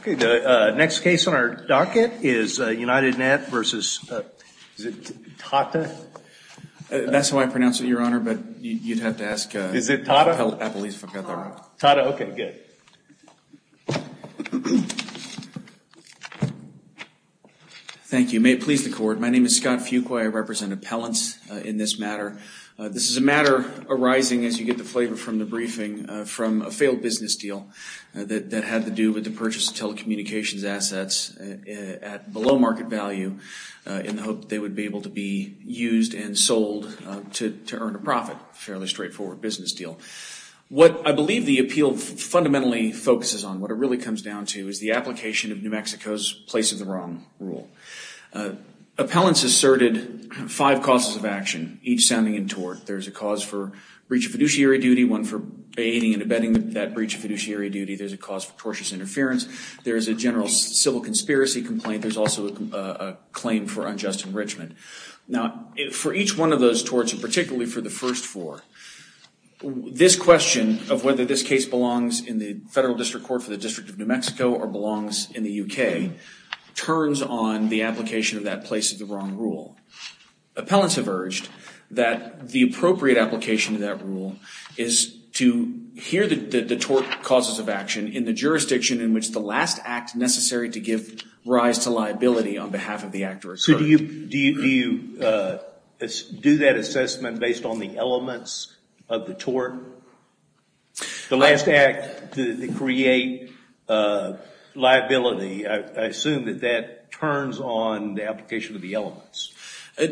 Okay, the next case on our docket is UnitedNet v. Tata. That's how I pronounce it, Your Honor, but you'd have to ask Appellate. Is it Tata? Tata. Tata, okay, good. Thank you. May it please the Court, my name is Scott Fuqua. I represent appellants in this matter. This is a matter arising, as you get the flavor from the briefing, from a failed business deal that had to do with the purchase of telecommunications assets at below market value in the hope that they would be able to be used and sold to earn a profit, a fairly straightforward business deal. What I believe the appeal fundamentally focuses on, what it really comes down to, is the application of New Mexico's place of the wrong rule. Appellants asserted five causes of action, each sounding in tort. There's a cause for breach of fiduciary duty, one for banning and abetting that breach of fiduciary duty. There's a cause for tortious interference. There's a general civil conspiracy complaint. There's also a claim for unjust enrichment. Now, for each one of those torts, and particularly for the first four, this question of whether this case belongs in the federal district court for the District of New Mexico or belongs in the U.K. turns on the application of that place of the wrong rule. Appellants have urged that the appropriate application of that rule is to hear the tort causes of action in the jurisdiction in which the last act necessary to give rise to liability on behalf of the actor asserted. So do you do that assessment based on the elements of the tort? The last act to create liability. I assume that that turns on the application of the elements.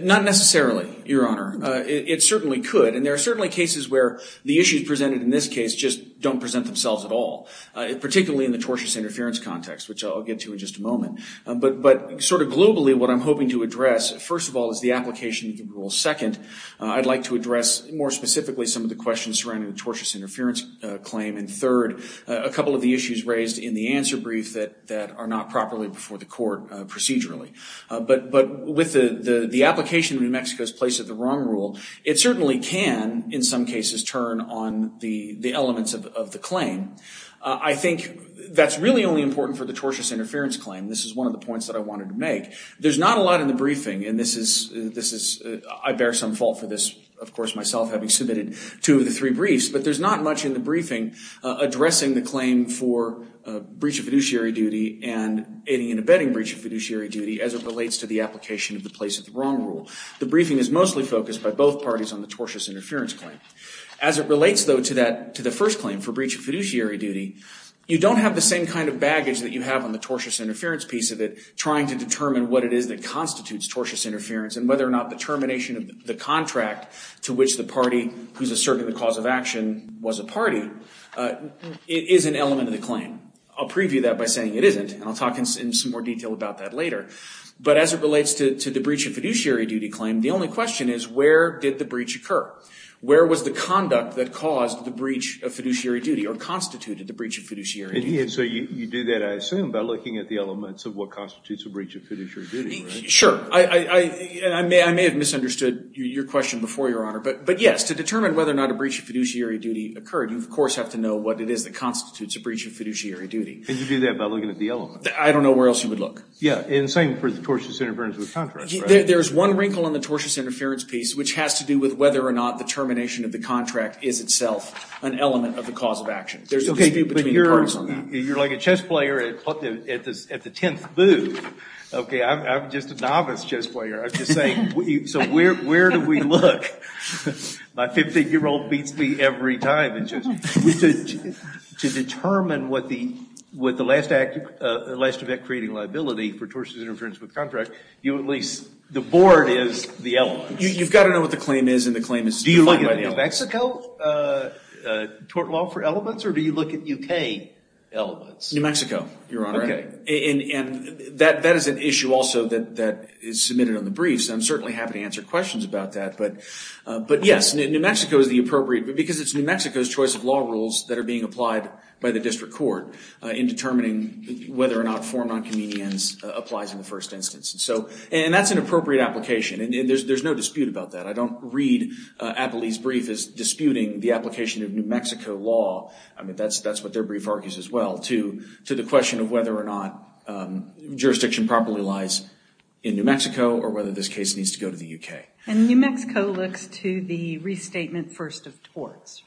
Not necessarily, Your Honor. It certainly could. And there are certainly cases where the issues presented in this case just don't present themselves at all, particularly in the tortious interference context, which I'll get to in just a moment. But sort of globally, what I'm hoping to address, first of all, is the application of the rule. Second, I'd like to address more specifically some of the questions surrounding the tortious interference claim. And third, a couple of the issues raised in the answer brief that are not properly before the court procedurally. But with the application of New Mexico's place of the wrong rule, it certainly can, in some cases, turn on the elements of the claim. I think that's really only important for the tortious interference claim. This is one of the points that I wanted to make. There's not a lot in the briefing, and I bear some fault for this, of course, myself having submitted two of the three briefs. But there's not much in the briefing addressing the claim for breach of fiduciary duty and aiding and abetting breach of fiduciary duty as it relates to the application of the place of the wrong rule. The briefing is mostly focused by both parties on the tortious interference claim. As it relates, though, to the first claim for breach of fiduciary duty, you don't have the same kind of baggage that you have on the tortious interference piece of it trying to determine what it is that constitutes tortious interference and whether or not the termination of the contract to which the party who's asserting the cause of action was a party is an element of the claim. I'll preview that by saying it isn't, and I'll talk in some more detail about that later. But as it relates to the breach of fiduciary duty claim, the only question is where did the breach occur? Where was the conduct that caused the breach of fiduciary duty or constituted the breach of fiduciary duty? And so you do that, I assume, by looking at the elements of what constitutes a breach of fiduciary duty, right? Sure. I may have misunderstood your question before, Your Honor. But yes, to determine whether or not a breach of fiduciary duty occurred, you, of course, have to know what it is that constitutes a breach of fiduciary duty. And you do that by looking at the elements. I don't know where else you would look. Yeah. And same for the tortious interference with contracts, right? There's one wrinkle in the tortious interference piece which has to do with whether or not the termination of the contract is itself an element of the cause of action. Okay. But you're like a chess player at the 10th move. Okay. I'm just a novice chess player. I'm just saying. So where do we look? My 15-year-old beats me every time in chess. To determine what the last act, the last event creating liability for tortious interference with contract, you at least, the board is the element. You've got to know what the claim is and the claim is defined by the element. Do you look at New Mexico tort law for elements or do you look at U.K. elements? New Mexico, Your Honor. Okay. And that is an issue also that is submitted on the briefs. I'm certainly happy to answer questions about that. But, yes, New Mexico is the appropriate because it's New Mexico's choice of law rules that are being applied by the district court in determining whether or not form non-convenience applies in the first instance. And that's an appropriate application. And there's no dispute about that. I don't read Appley's brief as disputing the application of New Mexico law. I mean, that's what their brief argues as well to the question of whether or not jurisdiction properly lies in New Mexico or whether this case needs to go to the U.K. And New Mexico looks to the restatement first of torts.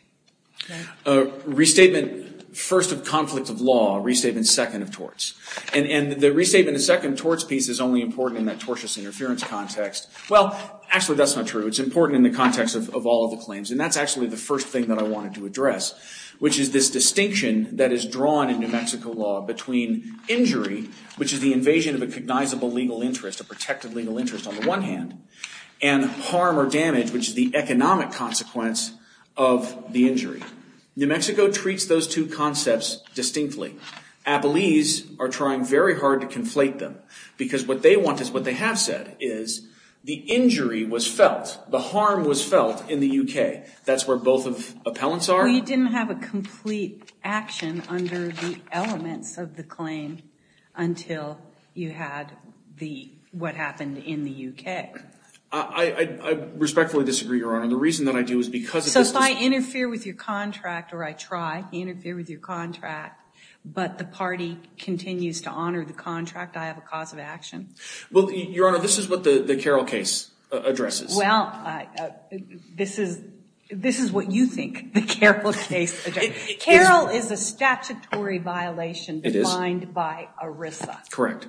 Restatement first of conflict of law, restatement second of torts. And the restatement of second torts piece is only important in that tortious interference context. Well, actually, that's not true. It's important in the context of all of the claims. And that's actually the first thing that I wanted to address, which is this distinction that is drawn in New Mexico law between injury, which is the invasion of a cognizable legal interest, a protected legal interest on the one hand, and harm or damage, which is the economic consequence of the injury. New Mexico treats those two concepts distinctly. Appley's are trying very hard to conflate them because what they want is what they have said, is the injury was felt, the harm was felt in the U.K. That's where both of appellants are. Well, you didn't have a complete action under the elements of the claim until you had what happened in the U.K. I respectfully disagree, Your Honor. The reason that I do is because of this distinction. I interfere with your contract, or I try to interfere with your contract, but the party continues to honor the contract. I have a cause of action. Well, Your Honor, this is what the Carroll case addresses. Well, this is what you think the Carroll case addresses. Carroll is a statutory violation defined by ERISA. Correct.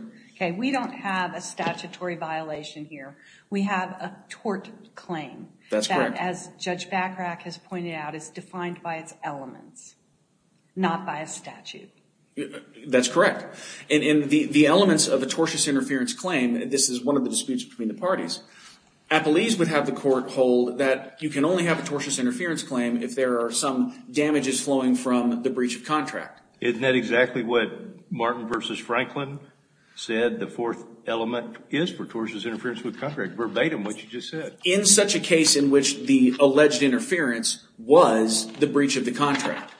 We don't have a statutory violation here. We have a tort claim. That's correct. But as Judge Bachrach has pointed out, it's defined by its elements, not by a statute. That's correct. In the elements of a tortious interference claim, this is one of the disputes between the parties, Appley's would have the court hold that you can only have a tortious interference claim if there are some damages flowing from the breach of contract. Isn't that exactly what Martin v. Franklin said the fourth element is for tortious interference with contract? Verbatim what you just said. In such a case in which the alleged interference was the breach of the contract,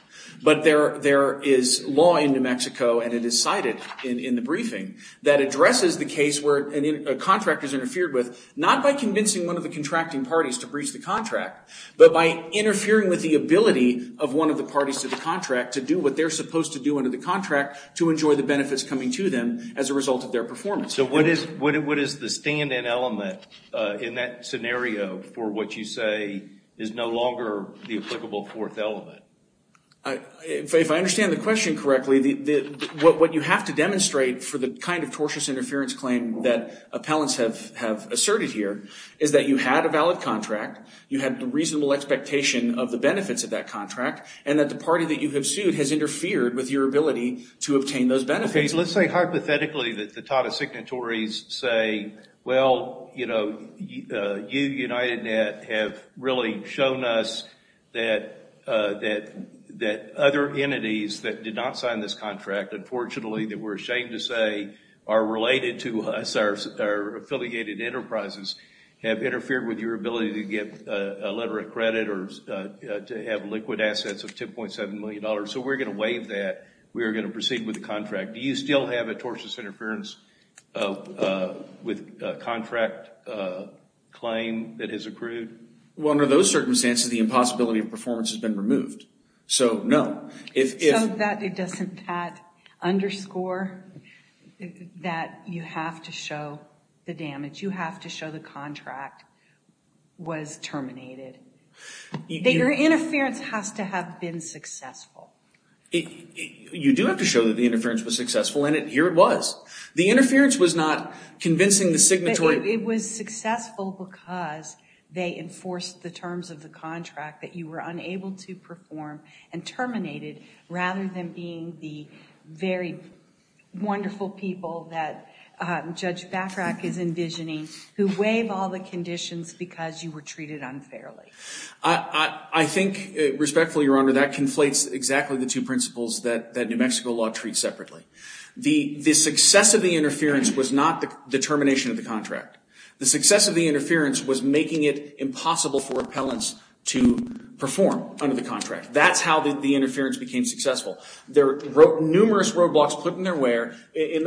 but there is law in New Mexico, and it is cited in the briefing, that addresses the case where a contract is interfered with not by convincing one of the contracting parties to breach the contract, but by interfering with the ability of one of the parties to the contract to do what they're supposed to do under the contract to enjoy the benefits coming to them as a result of their performance. So what is the stand-in element in that scenario for what you say is no longer the applicable fourth element? If I understand the question correctly, what you have to demonstrate for the kind of tortious interference claim that appellants have asserted here is that you had a valid contract, you had the reasonable expectation of the benefits of that contract, and that the party that you have sued has interfered with your ability to obtain those benefits. Let's say hypothetically that the TATA signatories say, well, you know, you, UnitedNet, have really shown us that other entities that did not sign this contract, unfortunately that we're ashamed to say are related to us, our affiliated enterprises have interfered with your ability to get a letter of credit or to have liquid assets of $10.7 million. So we're going to waive that. We are going to proceed with the contract. Do you still have a tortious interference with contract claim that has accrued? Well, under those circumstances, the impossibility of performance has been removed. So no. So that doesn't underscore that you have to show the damage. You have to show the contract was terminated. Your interference has to have been successful. You do have to show that the interference was successful, and here it was. The interference was not convincing the signatory. It was successful because they enforced the terms of the contract that you were unable to perform and terminated rather than being the very wonderful people that Judge Batrach is envisioning who waive all the conditions because you were treated unfairly. I think respectfully, Your Honor, that conflates exactly the two principles that New Mexico law treats separately. The success of the interference was not the termination of the contract. The success of the interference was making it impossible for appellants to perform under the contract. That's how the interference became successful. There were numerous roadblocks put in the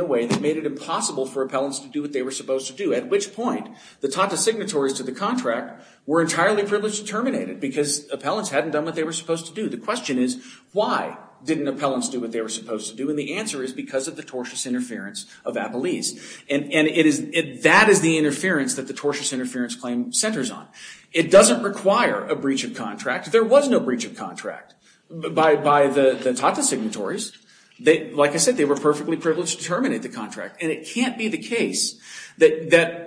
way that made it impossible for appellants to do what they were supposed to do, at which point the Tata signatories to the contract were entirely privileged to terminate it because appellants hadn't done what they were supposed to do. The question is, why didn't appellants do what they were supposed to do? And the answer is because of the tortious interference of Appellese. And that is the interference that the tortious interference claim centers on. It doesn't require a breach of contract. There was no breach of contract by the Tata signatories. Like I said, they were perfectly privileged to terminate the contract. And it can't be the case that a third party,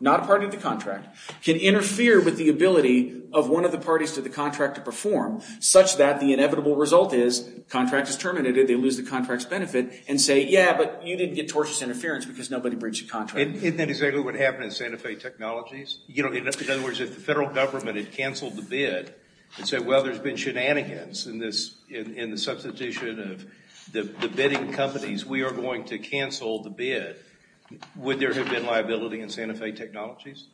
not a party to the contract, can interfere with the ability of one of the parties to the contract to perform, such that the inevitable result is the contract is terminated, they lose the contract's benefit, and say, yeah, but you didn't get tortious interference because nobody breached the contract. Isn't that exactly what happened in Santa Fe Technologies? In other words, if the federal government had canceled the bid and said, well, there's been shenanigans in the substitution of the bidding companies, we are going to cancel the bid, would there have been liability in Santa Fe Technologies?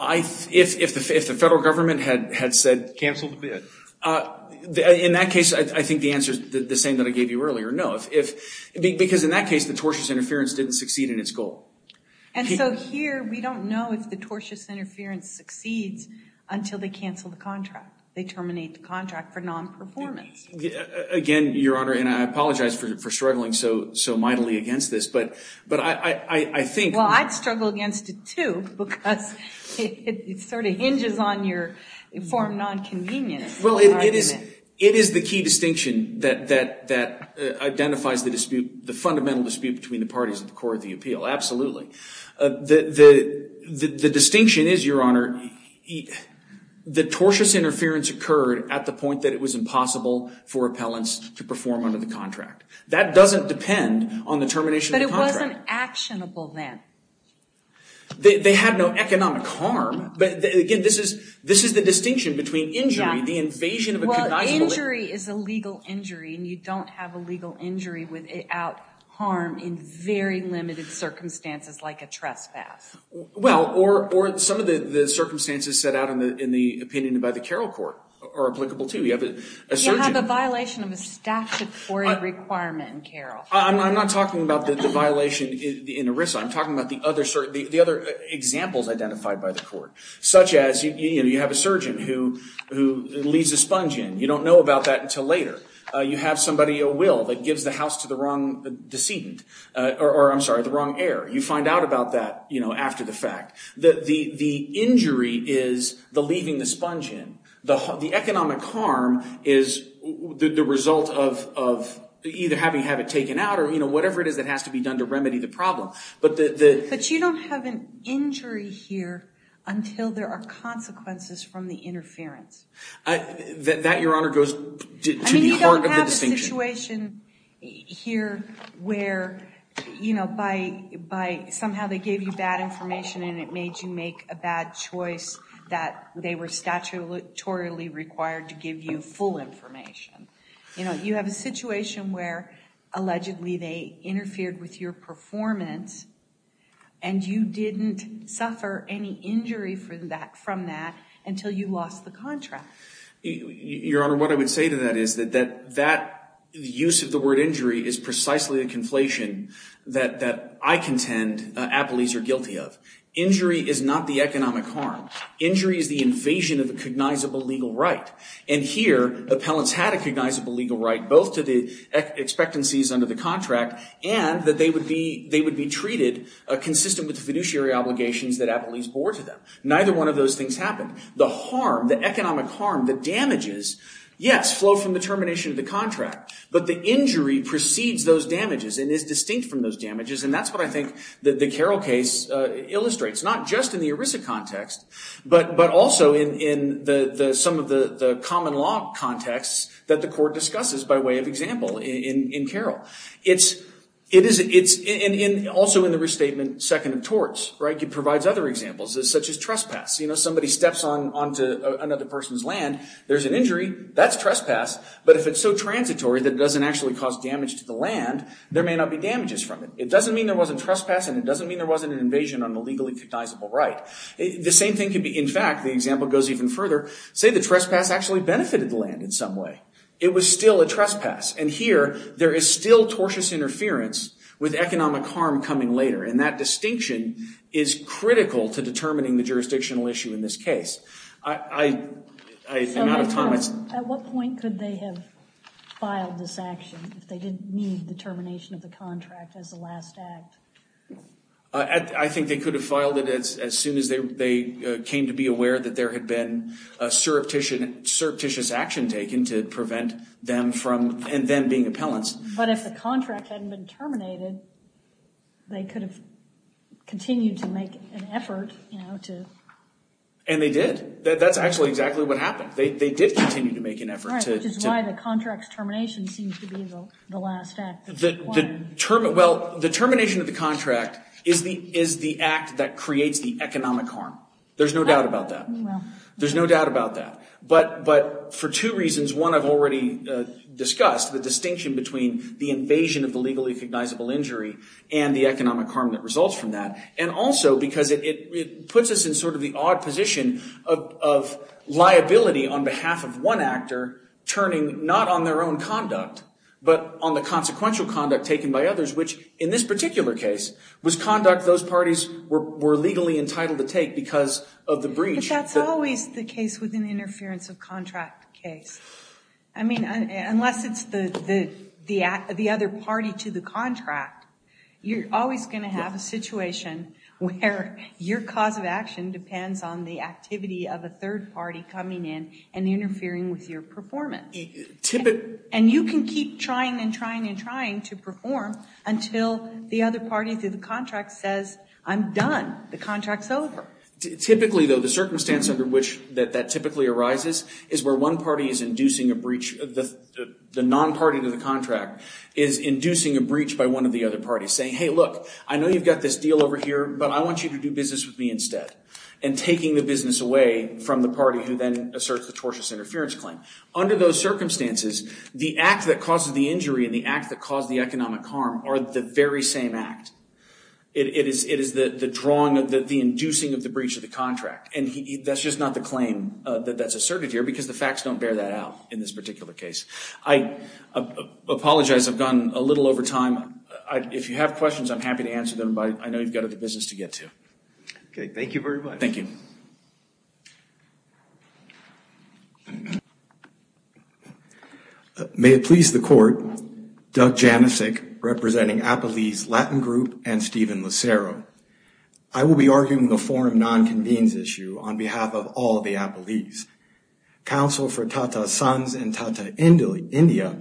If the federal government had said cancel the bid, in that case, I think the answer is the same that I gave you earlier, no. Because in that case, the tortious interference didn't succeed in its goal. And so here, we don't know if the tortious interference succeeds until they cancel the contract, they terminate the contract for nonperformance. Again, Your Honor, and I apologize for struggling so mightily against this, but I think – Well, I'd struggle against it, too, because it sort of hinges on your informed nonconvenience. Well, it is the key distinction that identifies the dispute, the dispute between the parties at the core of the appeal, absolutely. The distinction is, Your Honor, the tortious interference occurred at the point that it was impossible for appellants to perform under the contract. That doesn't depend on the termination of the contract. But it wasn't actionable then. They had no economic harm. Again, this is the distinction between injury, the invasion of a cognizable – Well, injury is a legal injury, and you don't have a legal injury without harm in very limited circumstances like a trespass. Well, or some of the circumstances set out in the opinion by the Carroll Court are applicable, too. You have a surgeon – You have a violation of a statutory requirement in Carroll. I'm not talking about the violation in ERISA. I'm talking about the other examples identified by the court, such as, you know, you have a surgeon who leaves a sponge in. You don't know about that until later. You have somebody at will that gives the house to the wrong decedent – or, I'm sorry, the wrong heir. You find out about that, you know, after the fact. The injury is the leaving the sponge in. The economic harm is the result of either having it taken out or, you know, whatever it is that has to be done to remedy the problem. But you don't have an injury here until there are consequences from the interference. That, Your Honor, goes to the heart of the distinction. I mean, you don't have a situation here where, you know, by somehow they gave you bad information and it made you make a bad choice that they were statutorily required to give you full information. You know, you have a situation where, allegedly, they interfered with your performance and you didn't suffer any injury from that until you lost the contract. Your Honor, what I would say to that is that that use of the word injury is precisely the conflation that I contend appellees are guilty of. Injury is not the economic harm. Injury is the invasion of a cognizable legal right. And here, appellants had a cognizable legal right both to the expectancies under the contract and that they would be treated consistent with the fiduciary obligations that appellees bore to them. Neither one of those things happened. The harm, the economic harm, the damages, yes, flow from the termination of the contract. But the injury precedes those damages and is distinct from those damages. And that's what I think the Carroll case illustrates, not just in the ERISA context, but also in some of the common law contexts that the court discusses by way of example in Carroll. It's also in the restatement second of torts, right? It provides other examples such as trespass. You know, somebody steps onto another person's land. There's an injury. That's trespass. But if it's so transitory that it doesn't actually cause damage to the land, there may not be damages from it. It doesn't mean there wasn't trespass and it doesn't mean there wasn't an invasion on the legally cognizable right. The same thing could be, in fact, the example goes even further, say the trespass actually benefited the land in some way. It was still a trespass. And here there is still tortious interference with economic harm coming later. And that distinction is critical to determining the jurisdictional issue in this case. I'm out of time. At what point could they have filed this action if they didn't need the termination of the contract as the last act? I think they could have filed it as soon as they came to be aware that there had been a surreptitious action taken to prevent them from then being appellants. But if the contract hadn't been terminated, they could have continued to make an effort to... And they did. That's actually exactly what happened. They did continue to make an effort to... Right, which is why the contract's termination seems to be the last act. Well, the termination of the contract is the act that creates the economic harm. There's no doubt about that. There's no doubt about that. But for two reasons, one I've already discussed, the distinction between the invasion of the legally recognizable injury and the economic harm that results from that, and also because it puts us in sort of the odd position of liability on behalf of one actor turning not on their own conduct but on the consequential conduct taken by others, which in this particular case was conduct those parties were legally entitled to take because of the breach. But that's always the case with an interference of contract case. I mean, unless it's the other party to the contract, you're always going to have a situation where your cause of action depends on the activity of a third party coming in and interfering with your performance. And you can keep trying and trying and trying to perform until the other party to the contract says, I'm done. The contract's over. Typically, though, the circumstance under which that typically arises is where one party is inducing a breach. The non-party to the contract is inducing a breach by one of the other parties, saying, hey, look, I know you've got this deal over here, but I want you to do business with me instead, and taking the business away from the party who then asserts the tortious interference claim. Under those circumstances, the act that causes the injury and the act that caused the economic harm are the very same act. It is the drawing, the inducing of the breach of the contract. And that's just not the claim that's asserted here because the facts don't bear that out in this particular case. I apologize. I've gone a little over time. If you have questions, I'm happy to answer them. But I know you've got other business to get to. Okay, thank you very much. Thank you. May it please the Court, Doug Janicek representing Appalese Latin Group and Stephen Lucero. I will be arguing the forum non-convenes issue on behalf of all the Appalese. Counsel for Tata Sons and Tata India,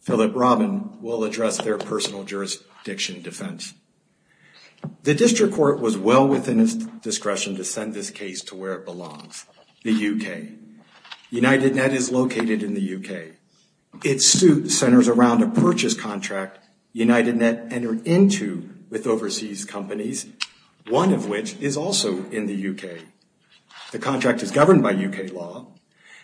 Philip Robin, will address their personal jurisdiction defense. The district court was well within its discretion to send this case to where it belongs, the U.K. UnitedNet is located in the U.K. Its suit centers around a purchase contract UnitedNet entered into with overseas companies, one of which is also in the U.K. The contract is governed by U.K. law,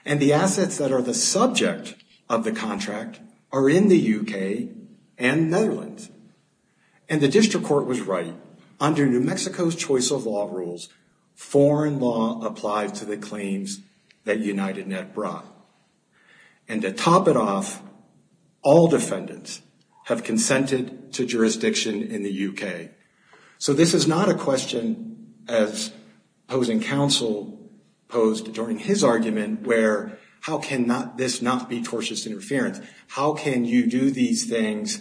and the assets that are the subject of the contract are in the U.K. and Netherlands. And the district court was right. Under New Mexico's choice of law rules, foreign law applies to the claims that UnitedNet brought. And to top it off, all defendants have consented to jurisdiction in the U.K. So this is not a question, as opposing counsel posed during his argument, where how can this not be tortious interference? How can you do these things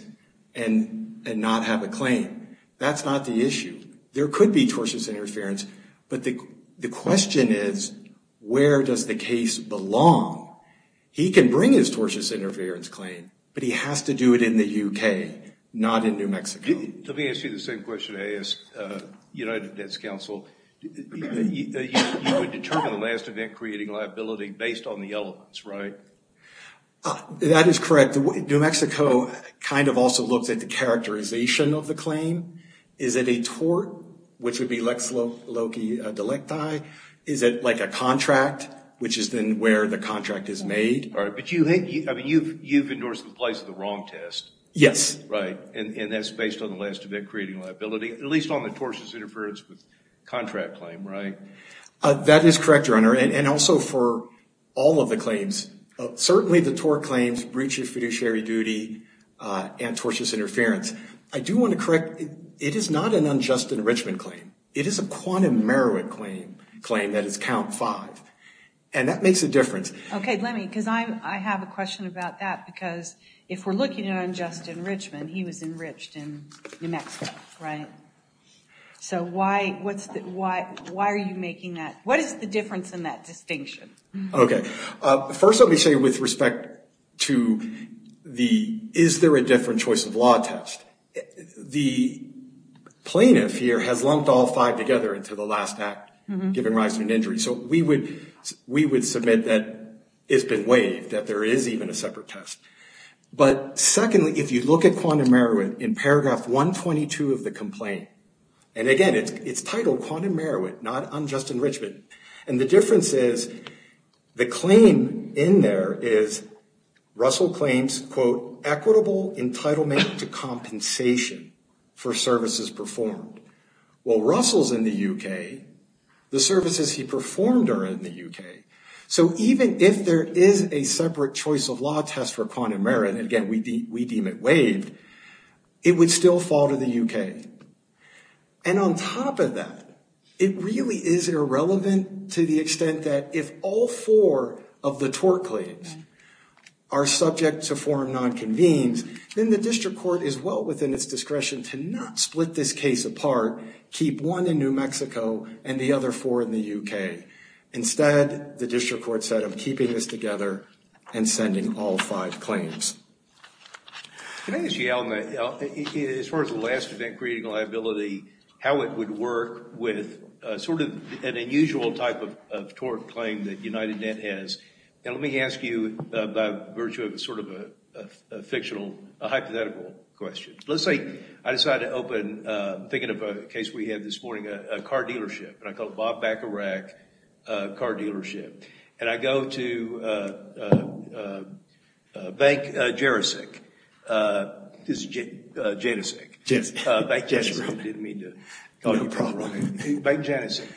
and not have a claim? That's not the issue. There could be tortious interference, but the question is where does the case belong? He can bring his tortious interference claim, but he has to do it in the U.K., not in New Mexico. Let me ask you the same question I asked UnitedNet's counsel. You would determine the last event creating liability based on the elements, right? That is correct. New Mexico kind of also looks at the characterization of the claim. Is it a tort, which would be lex loci delicti? Is it like a contract, which is then where the contract is made? But you've endorsed the place of the wrong test. Yes. Right, and that's based on the last event creating liability, at least on the tortious interference with contract claim, right? That is correct, Your Honor, and also for all of the claims. Certainly the tort claims, breach of fiduciary duty, and tortious interference. I do want to correct, it is not an unjust enrichment claim. It is a quantum merit claim that is count five, and that makes a difference. Okay, let me, because I have a question about that, because if we're looking at unjust enrichment, he was enriched in New Mexico, right? So why are you making that? What is the difference in that distinction? Okay. First let me say with respect to the is there a different choice of law test. The plaintiff here has lumped all five together into the last act, giving rise to an injury. So we would submit that it's been waived, that there is even a separate test. But secondly, if you look at quantum merit in paragraph 122 of the complaint, and again it's titled quantum merit, not unjust enrichment, and the difference is the claim in there is Russell claims, quote, equitable entitlement to compensation for services performed. Well, Russell's in the U.K. The services he performed are in the U.K. So even if there is a separate choice of law test for quantum merit, and again we deem it waived, it would still fall to the U.K. And on top of that, it really is irrelevant to the extent that if all four of the tort claims are subject to form non-convenes, then the district court is well within its discretion to not split this case apart, keep one in New Mexico and the other four in the U.K. Instead, the district court said, I'm keeping this together and sending all five claims. Can I ask you, Allen, as far as the last event creating liability, how it would work with sort of an unusual type of tort claim that UnitedNet has? And let me ask you by virtue of sort of a fictional hypothetical question. Let's say I decide to open, thinking of a case we had this morning, a car dealership. And I call it Bob Bacarach Car Dealership. And I go to Bank Janicek.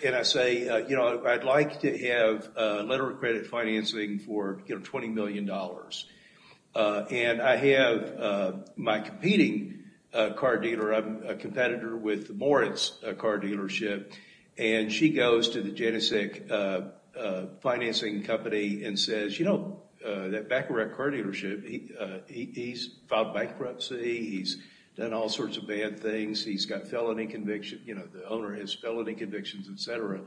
And I say, you know, I'd like to have a letter of credit financing for $20 million. And I have my competing car dealer. I'm a competitor with the Moritz Car Dealership. And she goes to the Janicek financing company and says, you know, that Bacarach Car Dealership, he's filed bankruptcy. He's done all sorts of bad things. He's got felony conviction. You know, the owner has felony convictions, et cetera,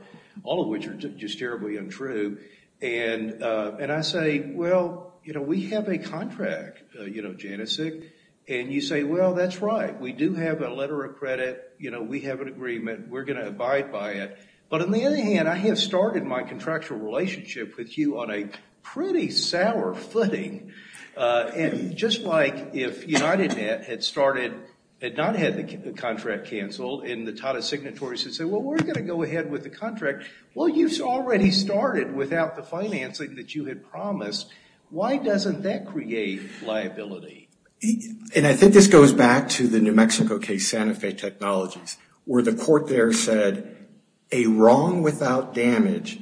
all of which are just terribly untrue. And I say, well, you know, we have a contract, you know, Janicek. And you say, well, that's right. We do have a letter of credit. You know, we have an agreement. We're going to abide by it. But on the other hand, I have started my contractual relationship with you on a pretty sour footing. And just like if UnitedNet had started, had not had the contract canceled and the Tata Signatories had said, well, we're going to go ahead with the contract. Well, you've already started without the financing that you had promised. Why doesn't that create liability? And I think this goes back to the New Mexico case, Santa Fe Technologies, where the court there said a wrong without damage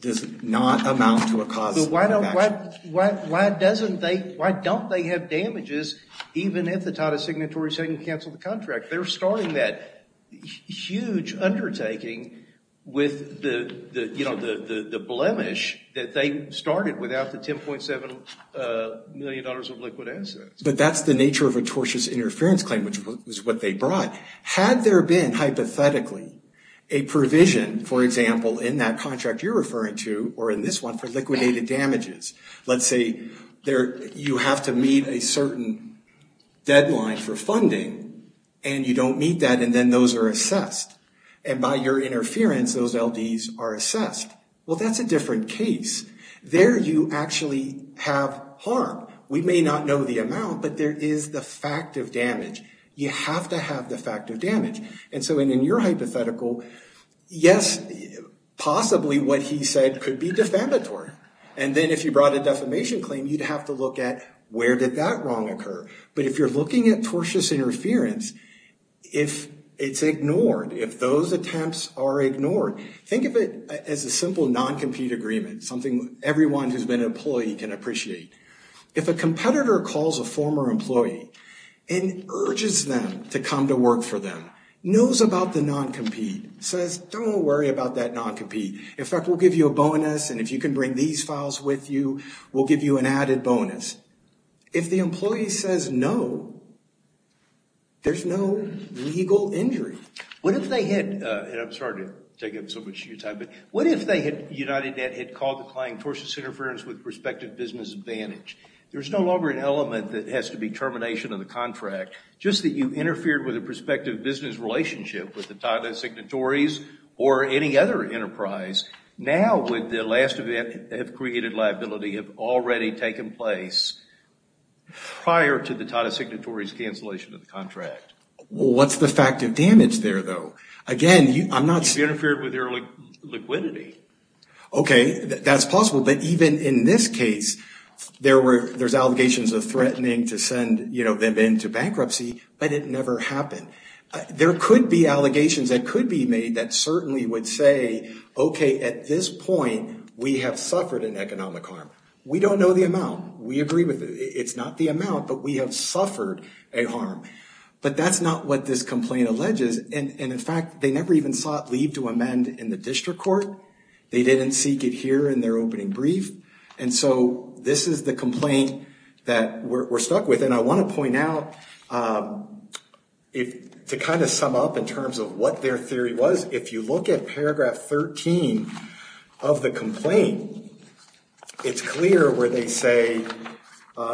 does not amount to a cause of bankruptcy. Why don't they have damages even if the Tata Signatories hadn't canceled the contract? They're starting that huge undertaking with the, you know, the blemish that they started without the $10.7 million of liquid assets. But that's the nature of a tortious interference claim, which is what they brought. Had there been, hypothetically, a provision, for example, in that contract you're referring to, or in this one, for liquidated damages, let's say you have to meet a certain deadline for funding and you don't meet that and then those are assessed. And by your interference, those LDs are assessed. Well, that's a different case. There you actually have harm. We may not know the amount, but there is the fact of damage. You have to have the fact of damage. And so in your hypothetical, yes, possibly what he said could be defamatory. And then if you brought a defamation claim, you'd have to look at where did that wrong occur. But if you're looking at tortious interference, if it's ignored, if those attempts are ignored, think of it as a simple non-compete agreement, something everyone who's been an employee can appreciate. If a competitor calls a former employee and urges them to come to work for them, knows about the non-compete, says, don't worry about that non-compete. In fact, we'll give you a bonus, and if you can bring these files with you, we'll give you an added bonus. If the employee says no, there's no legal injury. What if they had, and I'm sorry to take up so much of your time, but what if UnitedNet had called the claim tortious interference with prospective business advantage? There's no longer an element that has to be termination of the contract. Just that you interfered with a prospective business relationship with the Tata Signatories or any other enterprise. Now would the last event that created liability have already taken place prior to the Tata Signatories' cancellation of the contract? Well, what's the fact of damage there, though? Again, I'm not... You interfered with their liquidity. Okay, that's possible. But even in this case, there's allegations of threatening to send them into bankruptcy, but it never happened. There could be allegations that could be made that certainly would say, okay, at this point, we have suffered an economic harm. We don't know the amount. We agree with it. It's not the amount, but we have suffered a harm. But that's not what this complaint alleges, and in fact, they never even sought leave to amend in the district court. They didn't seek it here in their opening brief, and so this is the complaint that we're stuck with. And I want to point out, to kind of sum up in terms of what their theory was, if you look at paragraph 13 of the complaint, it's clear where they say,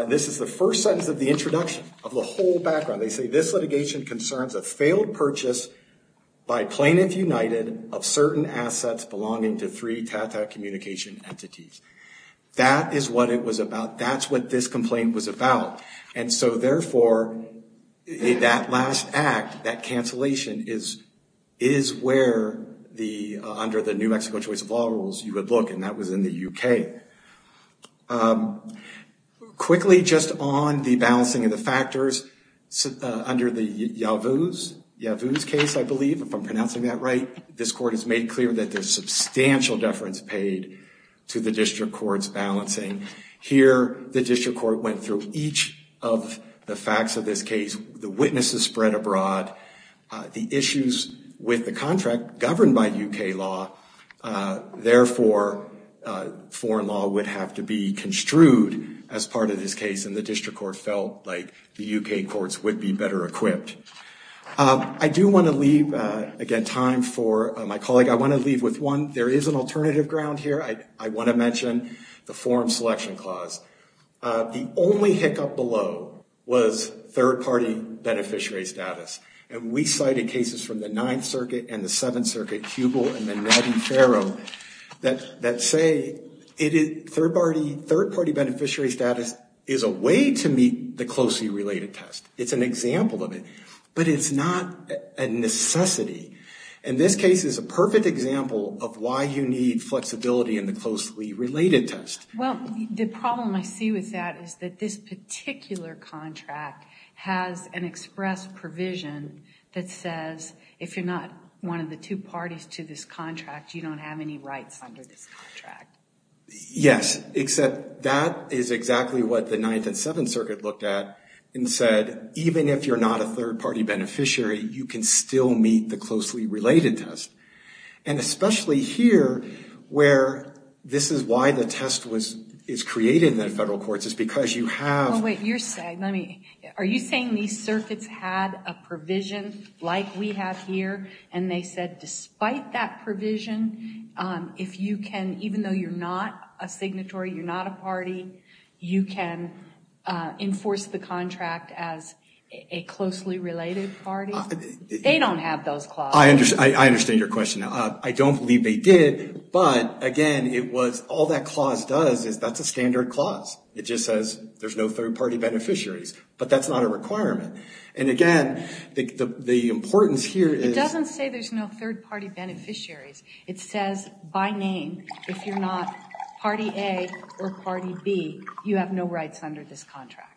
this is the first sentence of the introduction of the whole background. They say, this litigation concerns a failed purchase by Plaintiff United of certain assets belonging to three Tata communication entities. That is what it was about. That's what this complaint was about. And so, therefore, that last act, that cancellation, is where, under the New Mexico choice of law rules, you would look, and that was in the U.K. Quickly, just on the balancing of the factors, under the Yavuz case, I believe, if I'm pronouncing that right, this court has made clear that there's substantial deference paid to the district court's balancing. Here, the district court went through each of the facts of this case, the witnesses spread abroad, the issues with the contract governed by U.K. law. Therefore, foreign law would have to be construed as part of this case, and the district court felt like the U.K. courts would be better equipped. I do want to leave, again, time for my colleague. I want to leave with one. There is an alternative ground here. I want to mention the forum selection clause. The only hiccup below was third-party beneficiary status. And we cited cases from the Ninth Circuit and the Seventh Circuit, Hubel and the Navi Ferro, that say third-party beneficiary status is a way to meet the closely related test. It's an example of it. But it's not a necessity. And this case is a perfect example of why you need flexibility in the closely related test. Well, the problem I see with that is that this particular contract has an express provision that says if you're not one of the two parties to this contract, you don't have any rights under this contract. Yes, except that is exactly what the Ninth and Seventh Circuit looked at and said, even if you're not a third-party beneficiary, you can still meet the closely related test. And especially here, where this is why the test was created in the federal courts, is because you have... Are you saying these circuits had a provision like we have here, and they said despite that provision, if you can, even though you're not a signatory, you're not a party, you can enforce the contract as a closely related party? They don't have those clauses. I understand your question. I don't believe they did. But, again, it was all that clause does is that's a standard clause. It just says there's no third-party beneficiaries. But that's not a requirement. And, again, the importance here is... It doesn't say there's no third-party beneficiaries. It says by name, if you're not party A or party B, you have no rights under this contract.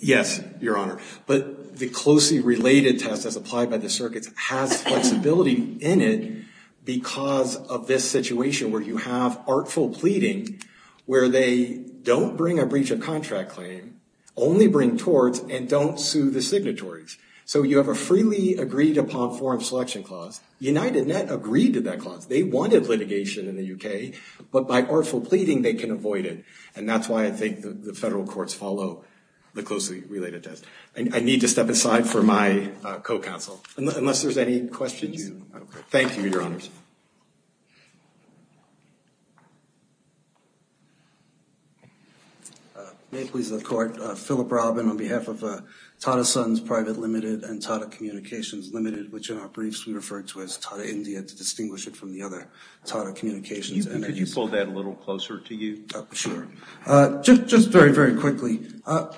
Yes, Your Honor. But the closely related test, as applied by the circuits, has flexibility in it because of this situation where you have artful pleading where they don't bring a breach of contract claim, only bring torts, and don't sue the signatories. So you have a freely agreed upon form selection clause. UnitedNet agreed to that clause. They wanted litigation in the UK. But by artful pleading, they can avoid it. And that's why I think the federal courts follow the closely related test. I need to step aside for my co-counsel, unless there's any questions. Thank you, Your Honors. May it please the Court. Philip Robin on behalf of Tata Sons Private Limited and Tata Communications Limited, which in our briefs we referred to as Tata India to distinguish it from the other Tata Communications entities. Could you pull that a little closer to you? Sure. Just very, very quickly.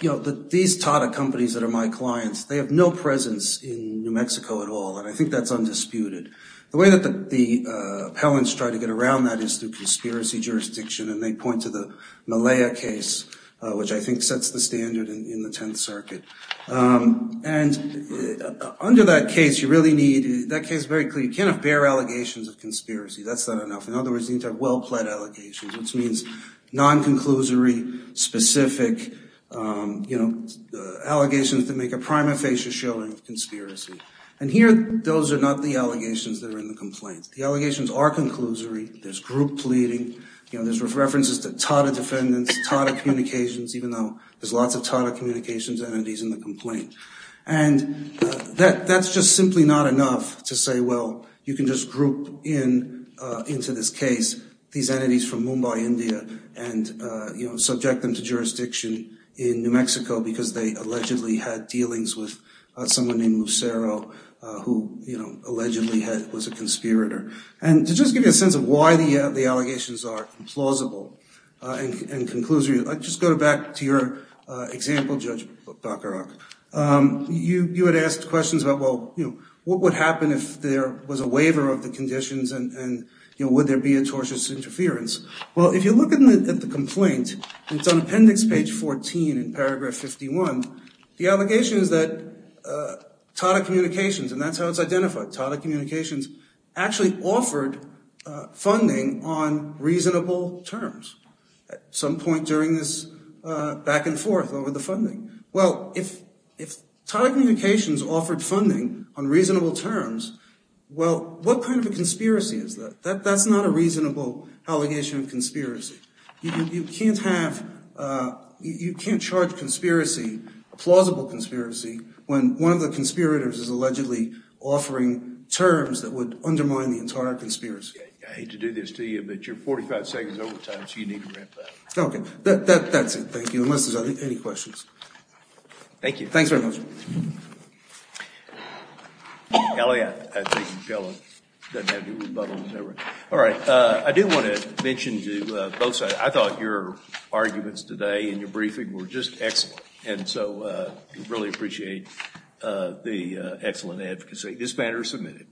You know, these Tata companies that are my clients, they have no presence in New Mexico at all. And I think that's undisputed. The way that the appellants try to get around that is through conspiracy jurisdiction. And they point to the Malaya case, which I think sets the standard in the Tenth Circuit. And under that case, you really need – that case is very clear. You can't have bare allegations of conspiracy. That's not enough. In other words, you need to have well-plaid allegations, which means non-conclusory, specific, you know, allegations that make a prima facie showing of conspiracy. And here, those are not the allegations that are in the complaint. The allegations are conclusory. There's group pleading. You know, there's references to Tata defendants, Tata Communications, even though there's lots of Tata Communications entities in the complaint. And that's just simply not enough to say, well, you can just group into this case these entities from Mumbai, India, and, you know, subject them to jurisdiction in New Mexico because they allegedly had dealings with someone named Lucero, who, you know, allegedly was a conspirator. And to just give you a sense of why the allegations are implausible and conclusory, I'll just go back to your example, Judge Bacharach. You had asked questions about, well, you know, what would happen if there was a waiver of the conditions and, you know, would there be a tortious interference? Well, if you look at the complaint, it's on appendix page 14 in paragraph 51. The allegation is that Tata Communications – and that's how it's identified. Tata Communications actually offered funding on reasonable terms at some point during this back and forth over the funding. Well, if Tata Communications offered funding on reasonable terms, well, what kind of a conspiracy is that? That's not a reasonable allegation of conspiracy. You can't have – you can't charge conspiracy, a plausible conspiracy, when one of the conspirators is allegedly offering terms that would undermine the entire conspiracy. I hate to do this to you, but you're 45 seconds over time, so you need to wrap that up. Okay. That's it. Thank you. Unless there's any questions. Thank you. Thanks very much. All right. I do want to mention to both sides, I thought your arguments today and your briefing were just excellent. And so I really appreciate the excellent advocacy. This matter is submitted.